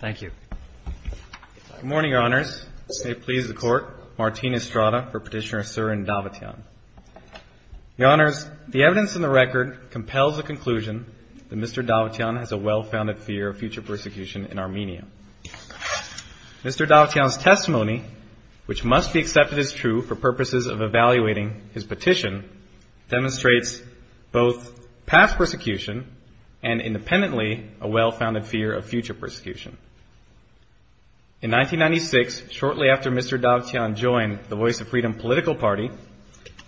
The evidence in the record compels the conclusion that Mr. Davtyan has a well-founded fear of future persecution in Armenia. Mr. Davtyan's testimony, which must be accepted as true for purposes of evaluating his petition, demonstrates both past persecution and, independently, a well-founded fear of future persecution. In 1996, shortly after Mr. Davtyan joined the Voice of Freedom political party,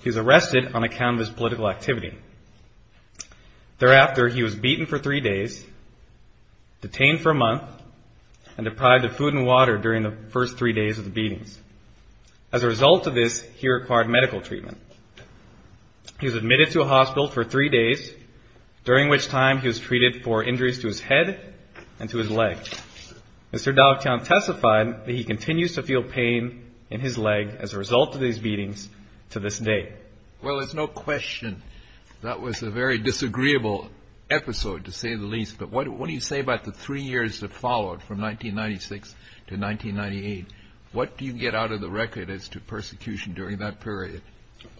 he was arrested on account of his political activity. Thereafter, he was beaten for three days, detained for a month, and deprived of food and water during the first three days of the beatings. As a result of this, he required medical treatment. He was admitted to a hospital for three days, during which time he was treated for injuries to his head and to his leg. Mr. Davtyan testified that he continues to feel pain in his leg as a result of these beatings to this day. Well, there's no question that was a very disagreeable episode, to say the least. But what do you say about the three years that followed, from 1996 to 1998? What do you get out of the record as to persecution during that period?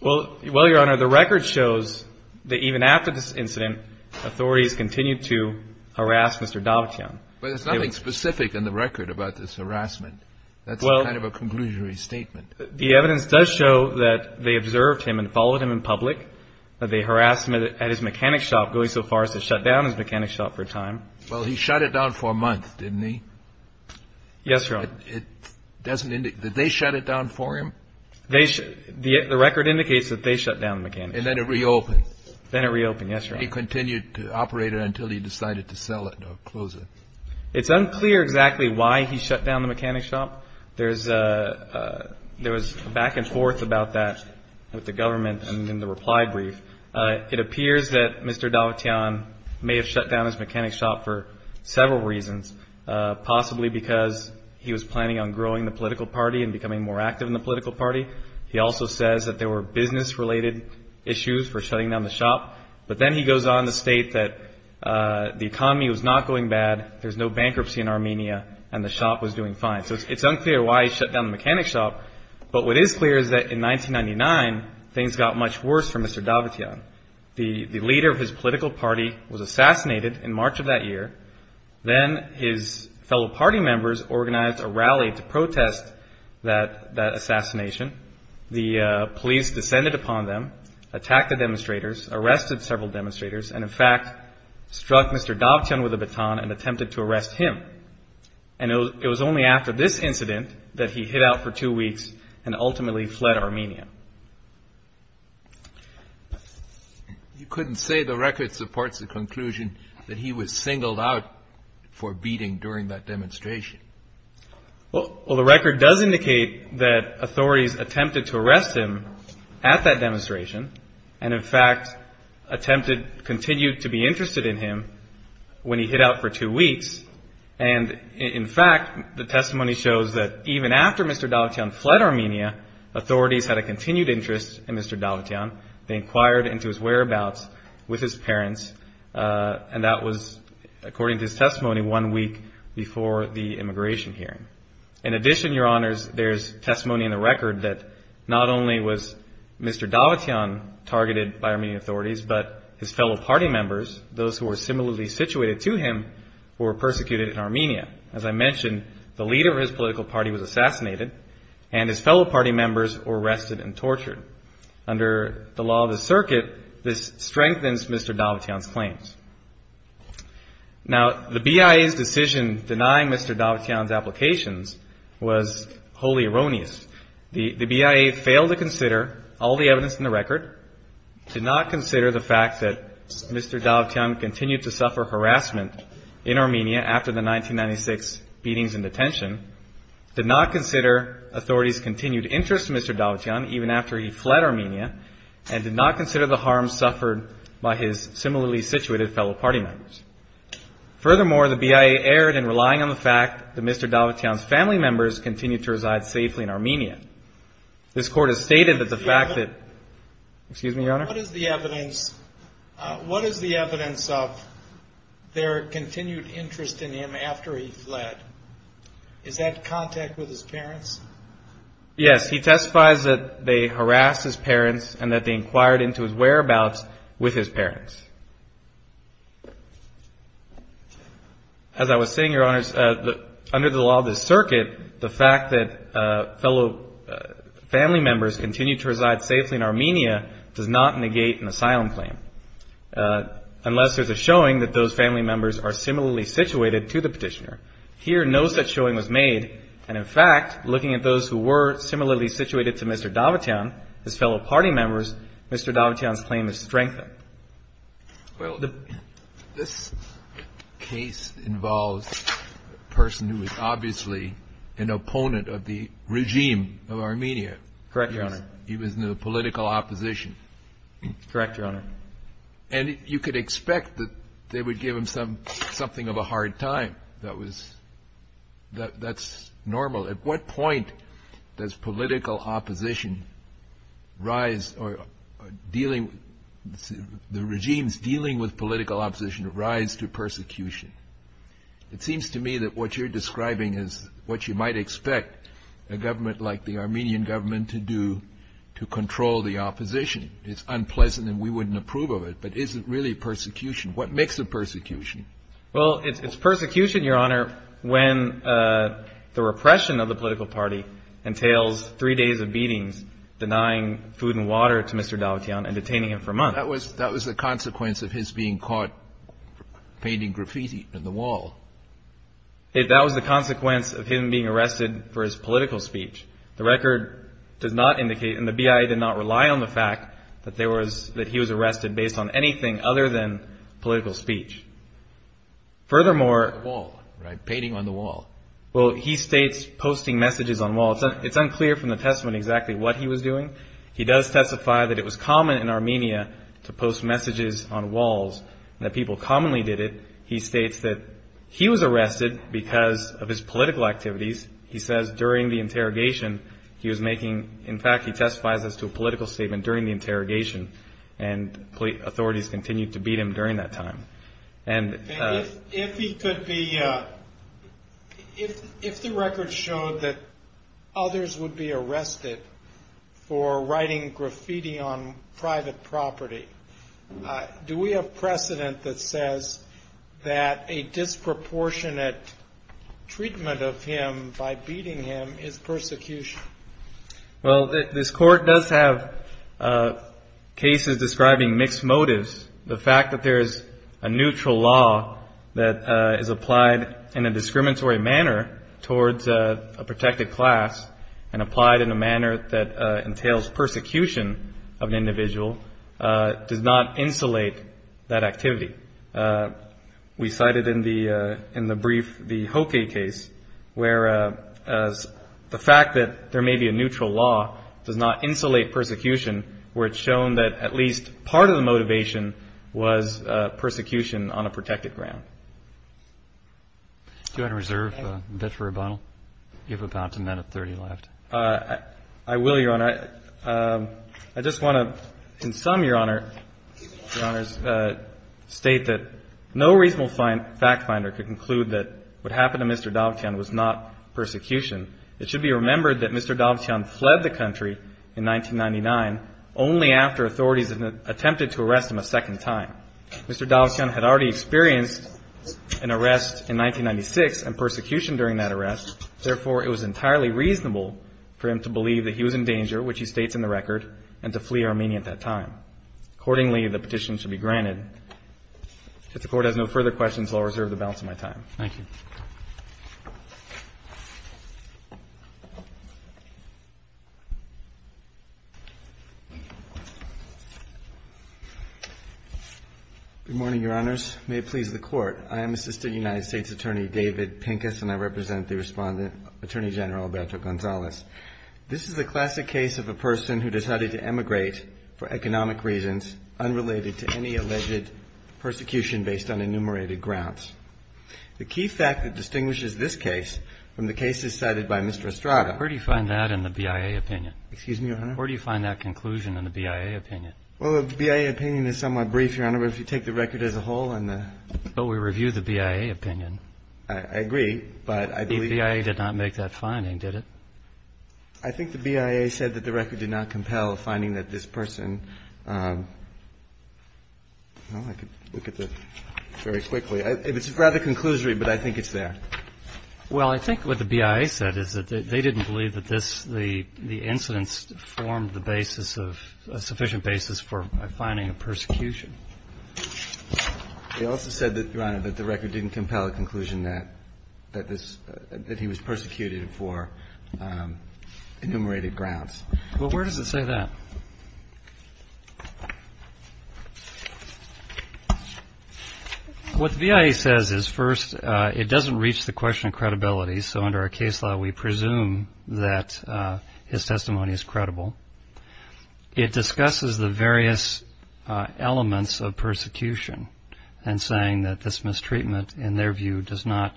Well, Your Honor, the record shows that even after this incident, authorities continued to harass Mr. Davtyan. But there's nothing specific in the record about this harassment. That's kind of a conclusory statement. The evidence does show that they observed him and followed him in public. They harassed him at his mechanic shop, going so far as to shut down his mechanic shop for a time. Well, he shut it down for a month, didn't he? Yes, Your Honor. It doesn't indicate... Did they shut it down for him? The record indicates that they shut down the mechanic shop. And then it reopened. Then it reopened. Yes, Your Honor. And he continued to operate it until he decided to sell it or close it. It's unclear exactly why he shut down the mechanic shop. There was a back and forth about that with the government and in the reply brief. It appears that Mr. Davtyan may have shut down his mechanic shop for several reasons, possibly because he was planning on growing the political party and becoming more active in the political party. He also says that there were business-related issues for shutting down the shop. But then he goes on to state that the economy was not going bad, there's no bankruptcy in Armenia, and the shop was doing fine. So it's unclear why he shut down the mechanic shop. But what is clear is that in 1999, things got much worse for Mr. Davtyan. The leader of his political party was assassinated in March of that year. Then his fellow party members organized a rally to protest that the police descended upon them, attacked the demonstrators, arrested several demonstrators, and in fact struck Mr. Davtyan with a baton and attempted to arrest him. And it was only after this incident that he hid out for two weeks and ultimately fled Armenia. You couldn't say the record supports the conclusion that he was singled out for beating during that demonstration. Well, the record does indicate that authorities attempted to arrest him at that demonstration and in fact attempted, continued to be interested in him when he hid out for two weeks. And in fact, the testimony shows that even after Mr. Davtyan fled Armenia, authorities had a continued interest in Mr. Davtyan. They inquired into his whereabouts with his parents, and that was, according to his testimony, one week before the immigration hearing. In addition, Your Honors, there's testimony in the record that not only was Mr. Davtyan targeted by Armenian authorities, but his fellow party members, those who were similarly situated to him, were persecuted in Armenia. As I mentioned, the leader of his political party was assassinated and his fellow party members were arrested and tortured. Under the law of the circuit, this strengthens Mr. Davtyan's claims. Now the BIA's decision denying Mr. Davtyan's applications was wholly erroneous. The BIA failed to consider all the evidence in the record, did not consider the fact that Mr. Davtyan continued to suffer harassment in Armenia after the 1996 beatings in detention, did not consider authorities' continued interest in Mr. Davtyan even after he fled Armenia, and did not consider the harm suffered by his similarly situated fellow party members. Furthermore, the BIA erred in relying on the fact that Mr. Davtyan's family members continued to reside safely in Armenia. This Court has stated that the fact that... Excuse me, Your Honor? What is the evidence of their continued interest in him after he fled? Is that contact with his parents? Yes, he testifies that they harassed his parents and that they inquired into his whereabouts with his parents. As I was saying, Your Honors, under the law of the circuit, the fact that fellow family members continued to reside safely in Armenia does not negate an asylum claim unless there's a showing that those family members are similarly situated to the petitioner. Here, no such showing was made, and in fact, looking at those who were similarly situated to Mr. Davtyan, his fellow party members, Mr. Davtyan's claim is strengthened. Well, this case involves a person who was obviously an opponent of the regime of Armenia. Correct, Your Honor. He was in the political opposition. Correct, Your Honor. And you could expect that they would give him something of a hard time. That's normal. At what point does political opposition rise, or dealing... The regime's dealing with political opposition rise to persecution. It seems to me that what you're describing is what you might expect a government like the Armenian government to do to control the opposition. It's unpleasant, and we wouldn't approve of it, but is it really persecution? What makes it persecution? Well, it's persecution, Your Honor, when the repression of the political party entails three days of beatings, denying food and water to Mr. Davtyan and detaining him for months. That was the consequence of his being caught painting graffiti on the wall. That was the consequence of him being arrested for his political speech. The record does not indicate, and the BIA did not rely on the fact that he was arrested based on anything other than political speech. Furthermore... On the wall, right? Painting on the wall. Well, he states posting messages on the wall. It's unclear from the testament exactly what he was doing. He does testify that it was common in Armenia to post messages on walls, and that people commonly did it. He states that he was arrested because of his political activities. He says during the interrogation, he was making... In fact, he testifies as to a political statement during the interrogation, and authorities continued to beat him during that time. And if he could be... If the record showed that others would be arrested for writing graffiti on private property, do we have precedent that says that a disproportionate treatment of him by beating him is persecution? Well, this court does have cases describing mixed motives. The fact that there is a neutral law that is applied in a discriminatory manner towards a protected class, and applied in a manner that entails persecution of an individual, does not insulate that activity. We cited in the brief the Hoke case, where as the fact that there may be a neutral law does not insulate persecution, where it's shown that at least part of the motivation was persecution on a protected ground. Do you want to reserve a bit for a bottle? You have about a minute and 30 left. I will, Your Honor. I just want to, in sum, Your Honor, state that no reasonable find could conclude that what happened to Mr. Dovchian was not persecution. It should be remembered that Mr. Dovchian fled the country in 1999, only after authorities attempted to arrest him a second time. Mr. Dovchian had already experienced an arrest in 1996, and persecution during that arrest. Therefore, it was entirely reasonable for him to believe that he was in danger, which he states in the record, and to flee Armenia at that time. Accordingly, the petition should be granted. If the Court has no further questions, I'll reserve the balance of my time. Thank you. Good morning, Your Honors. May it please the Court. I am Assistant United States Attorney David Pincus, and I represent the Respondent, Attorney General Alberto Gonzalez. This is the classic case of a person who decided to emigrate for economic reasons unrelated to any alleged persecution based on enumerated grounds. The key fact that distinguishes this case from the cases cited by Mr. Estrada… Where do you find that in the BIA opinion? Excuse me, Your Honor? Where do you find that conclusion in the BIA opinion? Well, the BIA opinion is somewhat brief, Your Honor, but if you take the record as a whole and the… But we review the BIA opinion. I agree, but I believe… The BIA did not make that finding, did it? I think the BIA said that the record did not compel a finding that this person… Well, I could look at the… very quickly. It's rather conclusory, but I think it's there. Well, I think what the BIA said is that they didn't believe that this… the incidents formed the basis of… a sufficient basis for finding a persecution. They also said that, Your Honor, that the record didn't compel a conclusion that this… that he was persecuted for enumerated grounds. Well, where does it say that? What the BIA says is, first, it doesn't reach the question of credibility, so under our case law, we presume that his testimony is credible. It discusses the various elements of persecution and saying that this mistreatment, in their view, does not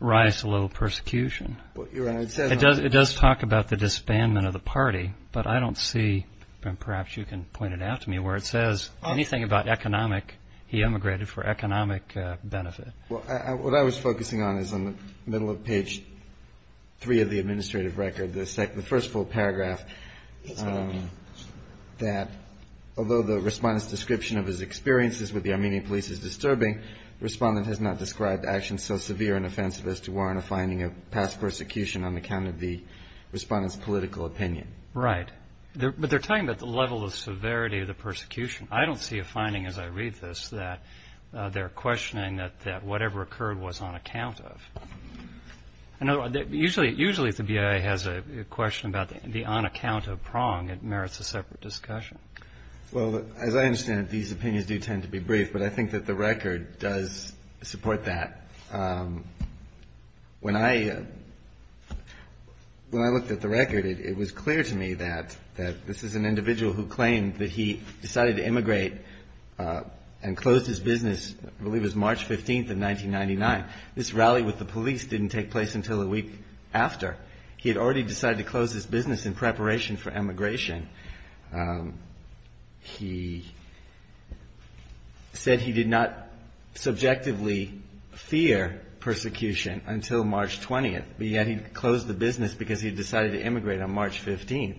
rise to the level of persecution. Well, Your Honor, it says… It does talk about the disbandment of the party, but I don't see… perhaps you can point it out to me… where it says anything about economic… he emigrated for economic benefit. Well, what I was focusing on is in the middle of page three of the administrative record, the first full paragraph… Yes, Your Honor.… that although the Respondent's description of his experiences with the Armenian police is disturbing, the Respondent has not described actions so severe and offensive as to warrant a finding of past persecution on account of the Respondent's political opinion. Right. But they're talking about the level of severity of the persecution. I don't see a finding, as I read this, that they're questioning that whatever occurred was on account of. Usually if the BIA has a question about the on account of prong, it merits a separate discussion. Well, as I understand it, these opinions do tend to be brief, but I think that the record does support that. When I looked at the record, it was clear to me that this is an individual who claimed that he decided to immigrate and closed his business, I believe it was March 15th of 1999. This rally with the police didn't take place until a week after. He had already decided to close his business in preparation for emigration. He said he did not subjectively fear persecution until March 20th, but yet he closed the business because he decided to immigrate on March 15th.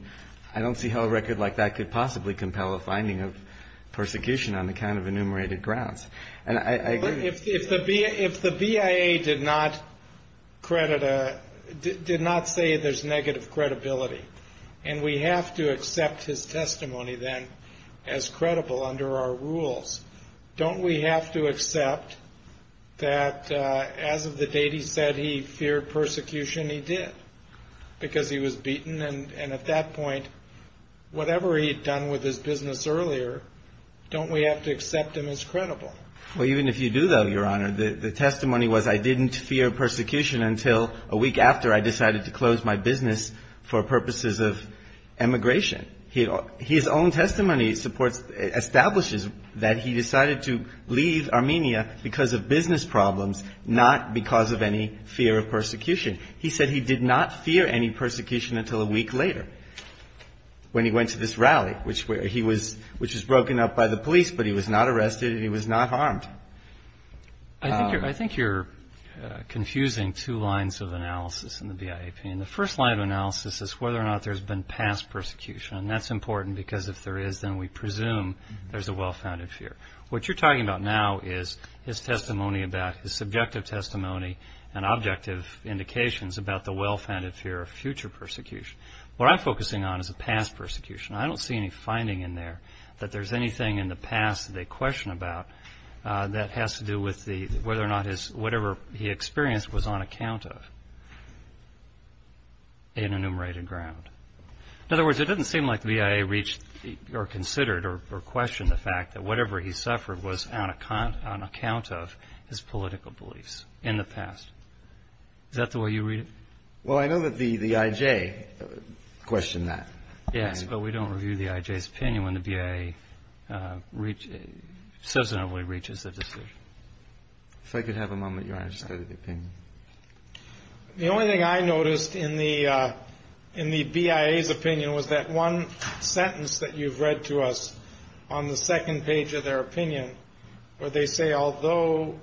I don't see how a record like that could possibly compel a finding of persecution on account of enumerated grounds. If the BIA did not say there's negative credibility, and we have to accept his testimony then as credible under our rules, don't we have to accept that as of the date he said he feared persecution, he did because he was beaten. At that point, whatever he had done with his business earlier, don't we have to accept him as credible? Well, even if you do, though, Your Honor, the testimony was I didn't fear persecution until a week after I decided to close my business for purposes of emigration. His own testimony establishes that he decided to leave Armenia because of business problems, not because of any fear of persecution. He said he did not fear any persecution until a week later when he went to this rally, which was broken up by the police, but he was not arrested and he was not harmed. I think you're confusing two lines of analysis in the BIA opinion. The first line of analysis is whether or not there's been past persecution, and that's important because if there is, then we presume there's a well-founded fear. What you're talking about now is his testimony about his subjective testimony and objective indications about the well-founded fear of persecution. What you're focusing on is a past persecution. I don't see any finding in there that there's anything in the past that they question about that has to do with whether or not whatever he experienced was on account of an enumerated ground. In other words, it doesn't seem like the BIA reached or considered or questioned the fact that whatever he suffered was on account of his political beliefs in the past. Is that the way you read it? Well, I know that the IJ questioned that. Yes, but we don't review the IJ's opinion when the BIA substantively reaches a decision. If I could have a moment, Your Honor, just go to the opinion. The only thing I noticed in the BIA's opinion was that one sentence that you've read to us on the second page of their opinion where they say, although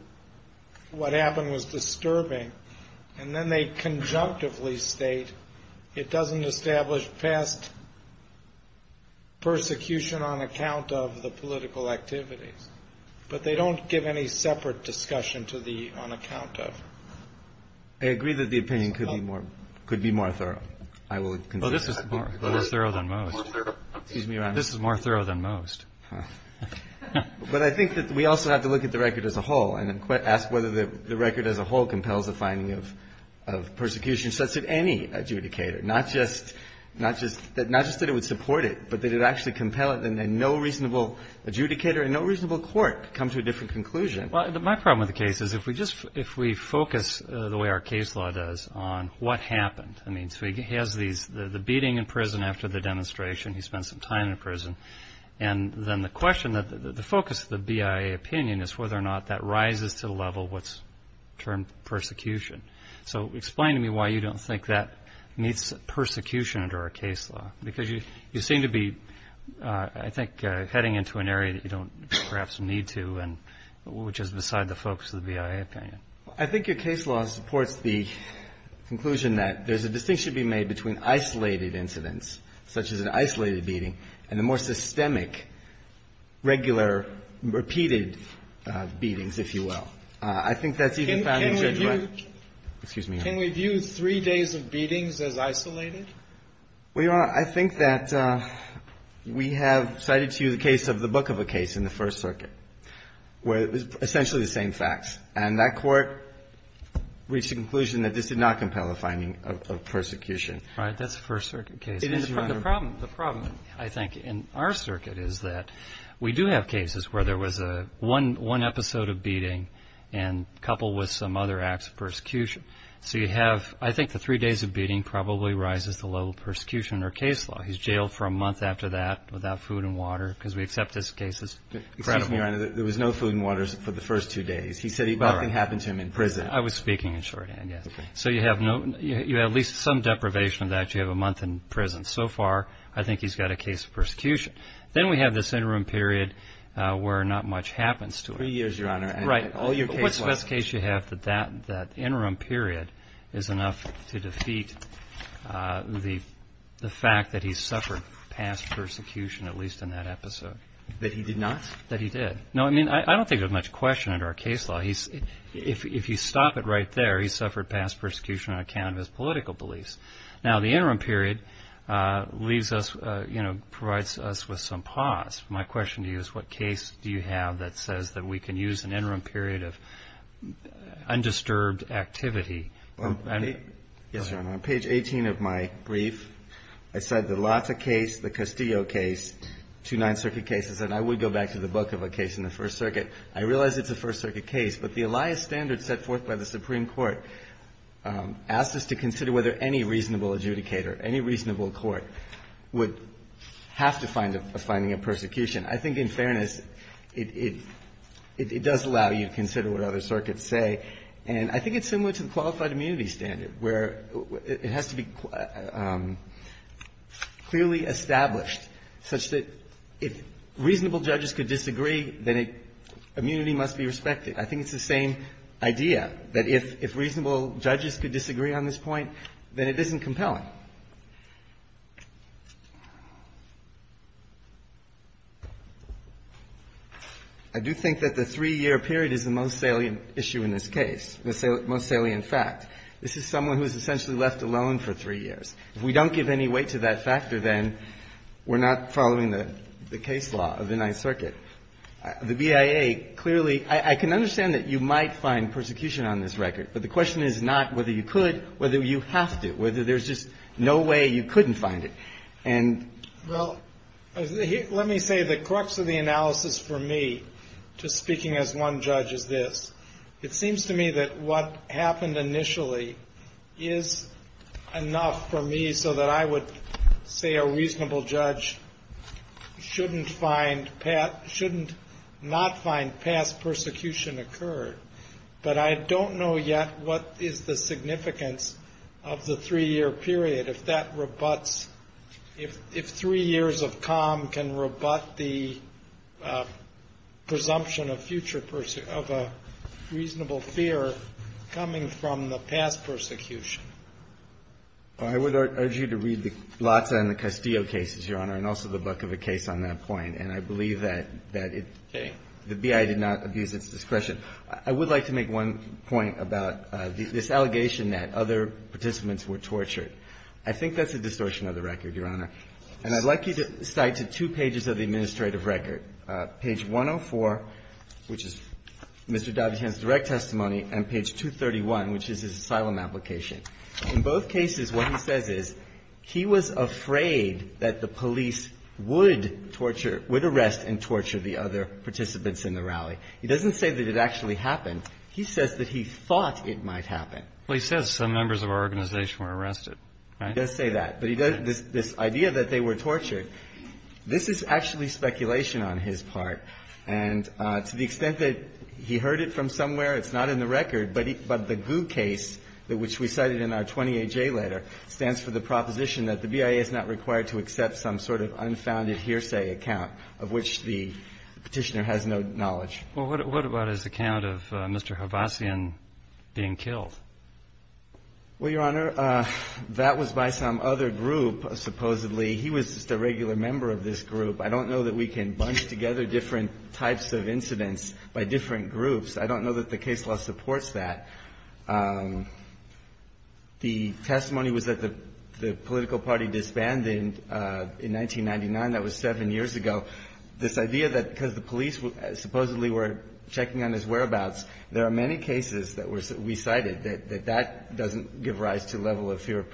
what happened was subjectively state, it doesn't establish past persecution on account of the political activities. But they don't give any separate discussion to the on account of. I agree that the opinion could be more thorough. I will consider it. Well, this is more thorough than most. Excuse me, Your Honor. This is more thorough than most. But I think that we also have to look at the record as a whole and ask whether the record as a whole compels the finding of persecution such that any adjudicator, not just that it would support it, but that it would actually compel it and then no reasonable adjudicator and no reasonable court could come to a different conclusion. Well, my problem with the case is if we focus the way our case law does on what happened. I mean, so he has the beating in prison after the demonstration. He spent some time in prison. And then the question, the focus of the BIA opinion is whether or not that rises to the term persecution. So explain to me why you don't think that meets persecution under our case law. Because you seem to be, I think, heading into an area that you don't perhaps need to and which is beside the focus of the BIA opinion. I think your case law supports the conclusion that there's a distinction to be made between isolated incidents such as an isolated beating and the more systemic, regular, repeated beatings, if you will. I think that's even found in Judge White. Excuse me, Your Honor. Can we view three days of beatings as isolated? Well, Your Honor, I think that we have cited to you the case of the book of a case in the First Circuit where it was essentially the same facts. And that court reached the conclusion that this did not compel the finding of persecution. All right. That's a First Circuit case. It is, Your Honor. The problem, I think, in our circuit is that we do have cases where there was one episode of beating and coupled with some other acts of persecution. So you have, I think, the three days of beating probably rises the level of persecution under case law. He's jailed for a month after that without food and water because we accept this case as credible. Excuse me, Your Honor. There was no food and water for the first two days. He said nothing happened to him in prison. I was speaking in shorthand, yes. So you have at least some deprivation of that. You have a month in prison. So far, I think he's got a case of persecution. Then we have this interim period where not much happens to him. Three years, Your Honor. Right. What's the best case you have that that interim period is enough to defeat the fact that he suffered past persecution, at least in that episode? That he did not? That he did. No, I mean, I don't think there's much question under our case law. If you stop it right there, he suffered past persecution on account of his political beliefs. Now, the interim period leaves us, you know, provides us with some pause. My question to you is what case do you have that says that we can use an interim period of undisturbed activity? Yes, Your Honor. On page 18 of my brief, I said the Lata case, the Castillo case, two Ninth Circuit cases, and I would go back to the book of a case in the First Circuit. I realize it's a First Circuit case, but the Elias standard set forth by the Supreme Court asked us to consider whether any fairness, it does allow you to consider what other circuits say. And I think it's similar to the qualified immunity standard, where it has to be clearly established such that if reasonable judges could disagree, then immunity must be respected. I think it's the same idea, that if reasonable judges could disagree on this point, then it isn't compelling. I do think that the three-year period is the most salient issue in this case, the most salient fact. This is someone who is essentially left alone for three years. If we don't give any weight to that factor, then we're not following the case law of the Ninth Circuit. The BIA clearly, I can understand that you might find persecution on this record, but the question is not whether you could, whether you have to, whether there's just no way you couldn't find it. And... Well, let me say the crux of the analysis for me, just speaking as one judge, is this. It seems to me that what happened initially is enough for me so that I would say a reasonable judge shouldn't find, shouldn't not find past persecution occurred. But I don't know yet what is the significance of the three-year period if that rebuts, if three years of calm can rebut the presumption of future, of a reasonable fear coming from the past persecution. I would urge you to read the Blatts and the Castillo cases, Your Honor, and also the Bukovic case on that point. And I believe that it... Okay. The BIA did not abuse its discretion. I would like to make one point about this allegation that other participants were tortured. I think that's a distortion of the record, Your Honor. And I'd like you to cite to two pages of the administrative record, page 104, which is Mr. Dobbs's direct testimony, and page 231, which is his asylum application. In both cases, what he says is he was afraid that the police would torture, would He doesn't say that it actually happened. He says that he thought it might happen. Well, he says some members of our organization were arrested, right? He does say that. But this idea that they were tortured, this is actually speculation on his part. And to the extent that he heard it from somewhere, it's not in the record. But the GU case, which we cited in our 20AJ letter, stands for the proposition that the BIA is not required to accept some sort of unfounded hearsay account of which the Petitioner has no knowledge. Well, what about his account of Mr. Havasian being killed? Well, Your Honor, that was by some other group, supposedly. He was just a regular member of this group. I don't know that we can bunch together different types of incidents by different groups. I don't know that the case law supports that. The testimony was that the political party disbanded in 1999. That was seven years ago. This idea that because the police supposedly were checking on his whereabouts, there are many cases that we cited that that doesn't give rise to a level of fear of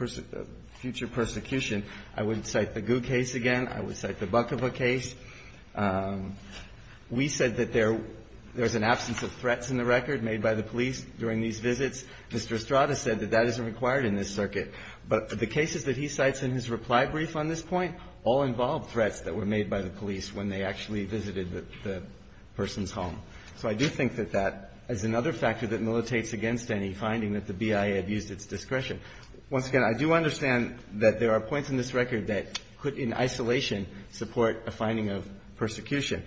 future persecution. I wouldn't cite the GU case again. I would cite the Bukova case. We said that there's an absence of threats in the record made by the police during these visits. Mr. Estrada said that that isn't required in this circuit. But the cases that he cites in his reply brief on this point all involve threats that were made by the police when they actually visited the person's home. So I do think that that is another factor that militates against any finding that the BIA abused its discretion. Once again, I do understand that there are points in this record that could in isolation support a finding of persecution.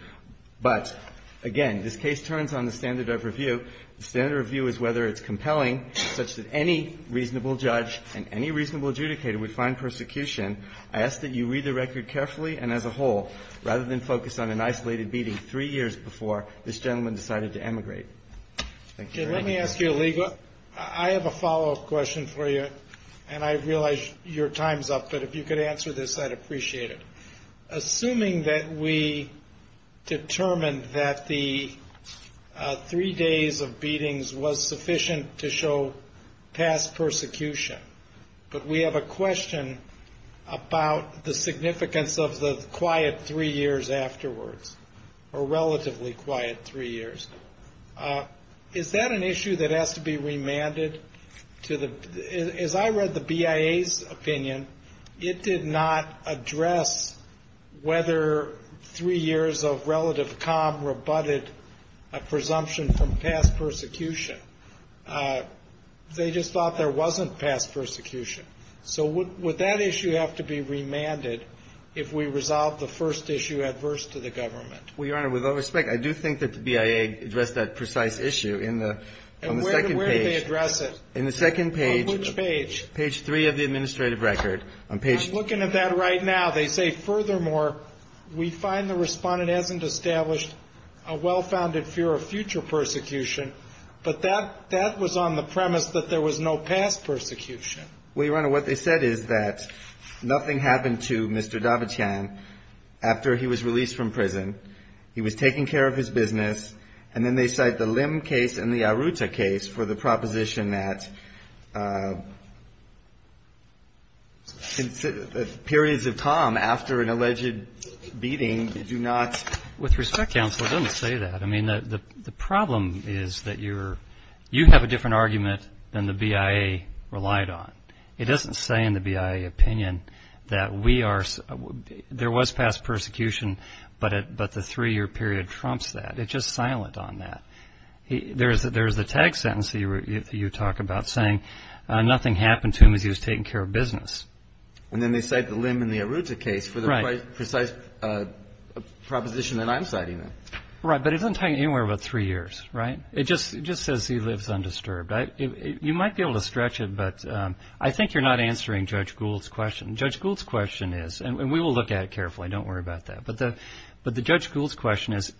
But, again, this case turns on the standard of review. The standard of review is whether it's compelling such that any reasonable judge and any reasonable adjudicator would find persecution. I ask that you read the record carefully and as a whole rather than focus on an isolated beating three years before this gentleman decided to emigrate. Thank you. Let me ask you a legal question. I have a follow-up question for you. And I realize your time's up. But if you could answer this, I'd appreciate it. Assuming that we determined that the three days of beatings was sufficient to show past persecution, but we have a question about the significance of the quiet three years afterwards, or relatively quiet three years. Is that an issue that has to be remanded? As I read the BIA's opinion, it did not address whether three years of relative calm a presumption from past persecution. They just thought there wasn't past persecution. So would that issue have to be remanded if we resolve the first issue adverse to the government? Well, Your Honor, with all respect, I do think that the BIA addressed that precise issue in the second page. And where did they address it? In the second page. On which page? Page three of the administrative record. I'm looking at that right now. They say, furthermore, we find the respondent hasn't established a well-founded fear of future persecution. But that was on the premise that there was no past persecution. Well, Your Honor, what they said is that nothing happened to Mr. Davitian after he was released from prison. He was taking care of his business. And then they cite the Lim case and the Aruta case for the proposition that periods of calm after an alleged beating do not. With respect, Counselor, don't say that. I mean, the problem is that you're you have a different argument than the BIA relied on. It doesn't say in the BIA opinion that we are there was past persecution, but the three-year period trumps that. It's just silent on that. There is a tag sentence that you talk about saying nothing happened to him as he was taking care of business. And then they cite the Lim and the Aruta case for the precise proposition that I'm citing there. Right. But it doesn't tell you anywhere about three years, right? It just says he lives undisturbed. You might be able to stretch it, but I think you're not answering Judge Gould's question. Judge Gould's question is, and we will look at it carefully. Don't worry about that. But the Judge Gould's question is,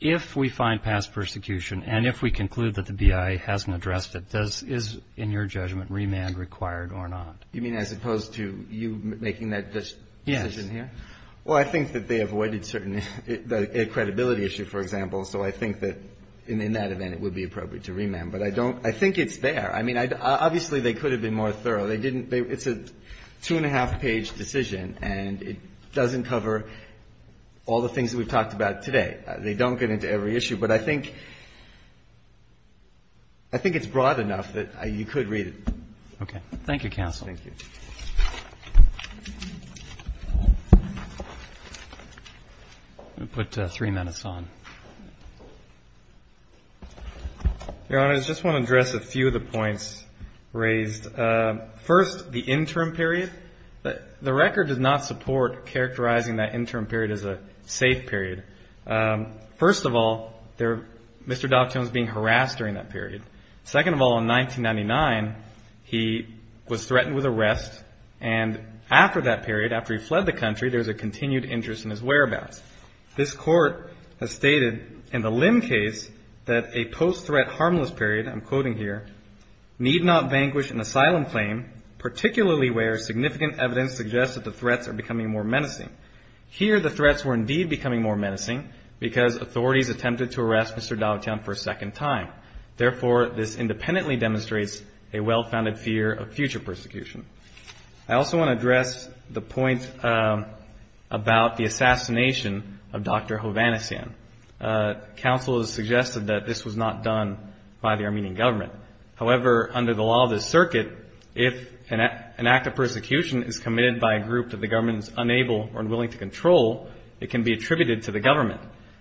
if we find past persecution and if we conclude that the BIA hasn't addressed it, does, is, in your judgment, remand required or not? You mean as opposed to you making that decision here? Yes. Well, I think that they avoided certain, the credibility issue, for example, so I think that in that event it would be appropriate to remand. But I don't, I think it's there. I mean, obviously, they could have been more thorough. They didn't, it's a two and a half page decision and it doesn't cover all the things that we've talked about today. They don't get into every issue. But I think, I think it's broad enough that you could read it. Okay. Thank you, counsel. I'm going to put three minutes on. Your Honor, I just want to address a few of the points raised. First, the interim period. The record does not support characterizing that interim period as a safe period. First of all, there, Mr. Dockton was being harassed during that period. Second of all, in 1999, he was threatened with arrest. And after that period, after he fled the country, there was a continued interest in his whereabouts. This court has stated, in the Lim case, that a post-threat harmless period, I'm quoting here, need not vanquish an asylum claim, particularly where significant evidence suggests that the threats are becoming more menacing. Here, the threats were indeed becoming more menacing because authorities attempted to arrest Mr. Dockton for a second time. Therefore, this independently demonstrates a well-founded fear of future persecution. I also want to address the point about the assassination of Dr. Hovhannisyan. Counsel has suggested that this was not done by the Armenian government. However, under the law of the circuit, if an act of persecution is committed by a group that the government is unable or unwilling to control, it can be attributed to the government.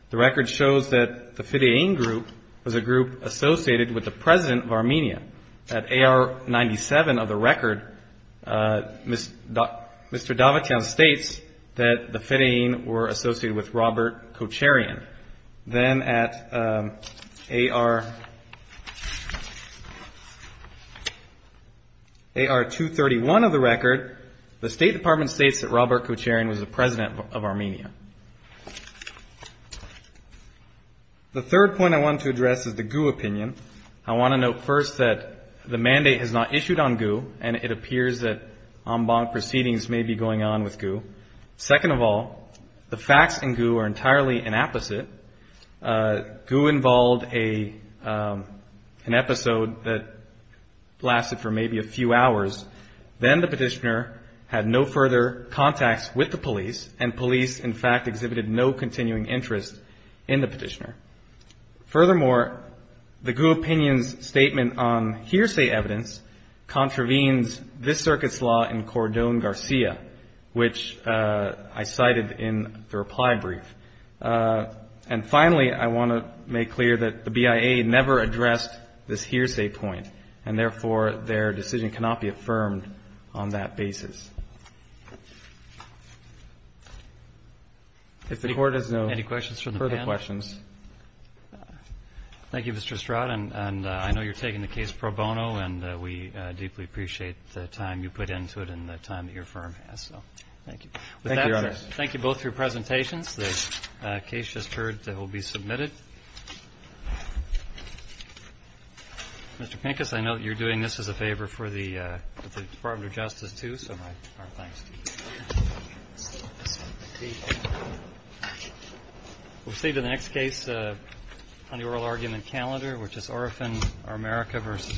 The record shows that the Fidein group was a group associated with the President of Armenia. At AR-97 of the record, Mr. Davitian states that the Fidein were associated with Robert Kocharian. Then at AR-231 of the record, the State Department states that Robert Kocharian was the President of Armenia. The third point I want to address is the Gu opinion. I want to note first that the mandate has not issued on Gu, and it appears that en banc proceedings may be going on with Gu. Second of all, the facts in Gu are entirely an apposite. Gu involved an episode that lasted for maybe a few hours. Then the petitioner had no further contacts with the police, and police in fact exhibited no continuing interest in the petitioner. Furthermore, the Gu opinion's statement on hearsay evidence contravenes this circuit's law in Cordon Garcia, which I cited in the reply brief. And finally, I want to make clear that the BIA never addressed this hearsay point, and therefore, their decision cannot be affirmed on that basis. If the Court has no further questions. Thank you, Mr. Stroud. And I know you're taking the case pro bono, and we deeply appreciate the time you put into it and the time that your firm has. So thank you. Thank you, Your Honor. Thank you both for your presentations. The case just heard will be submitted. Mr. Pincus, I know that you're doing this as a favor for the Department of Justice, too, so my thanks to you. Thank you. We'll proceed to the next case on the oral argument calendar, which is Orofin v. America v. Bia.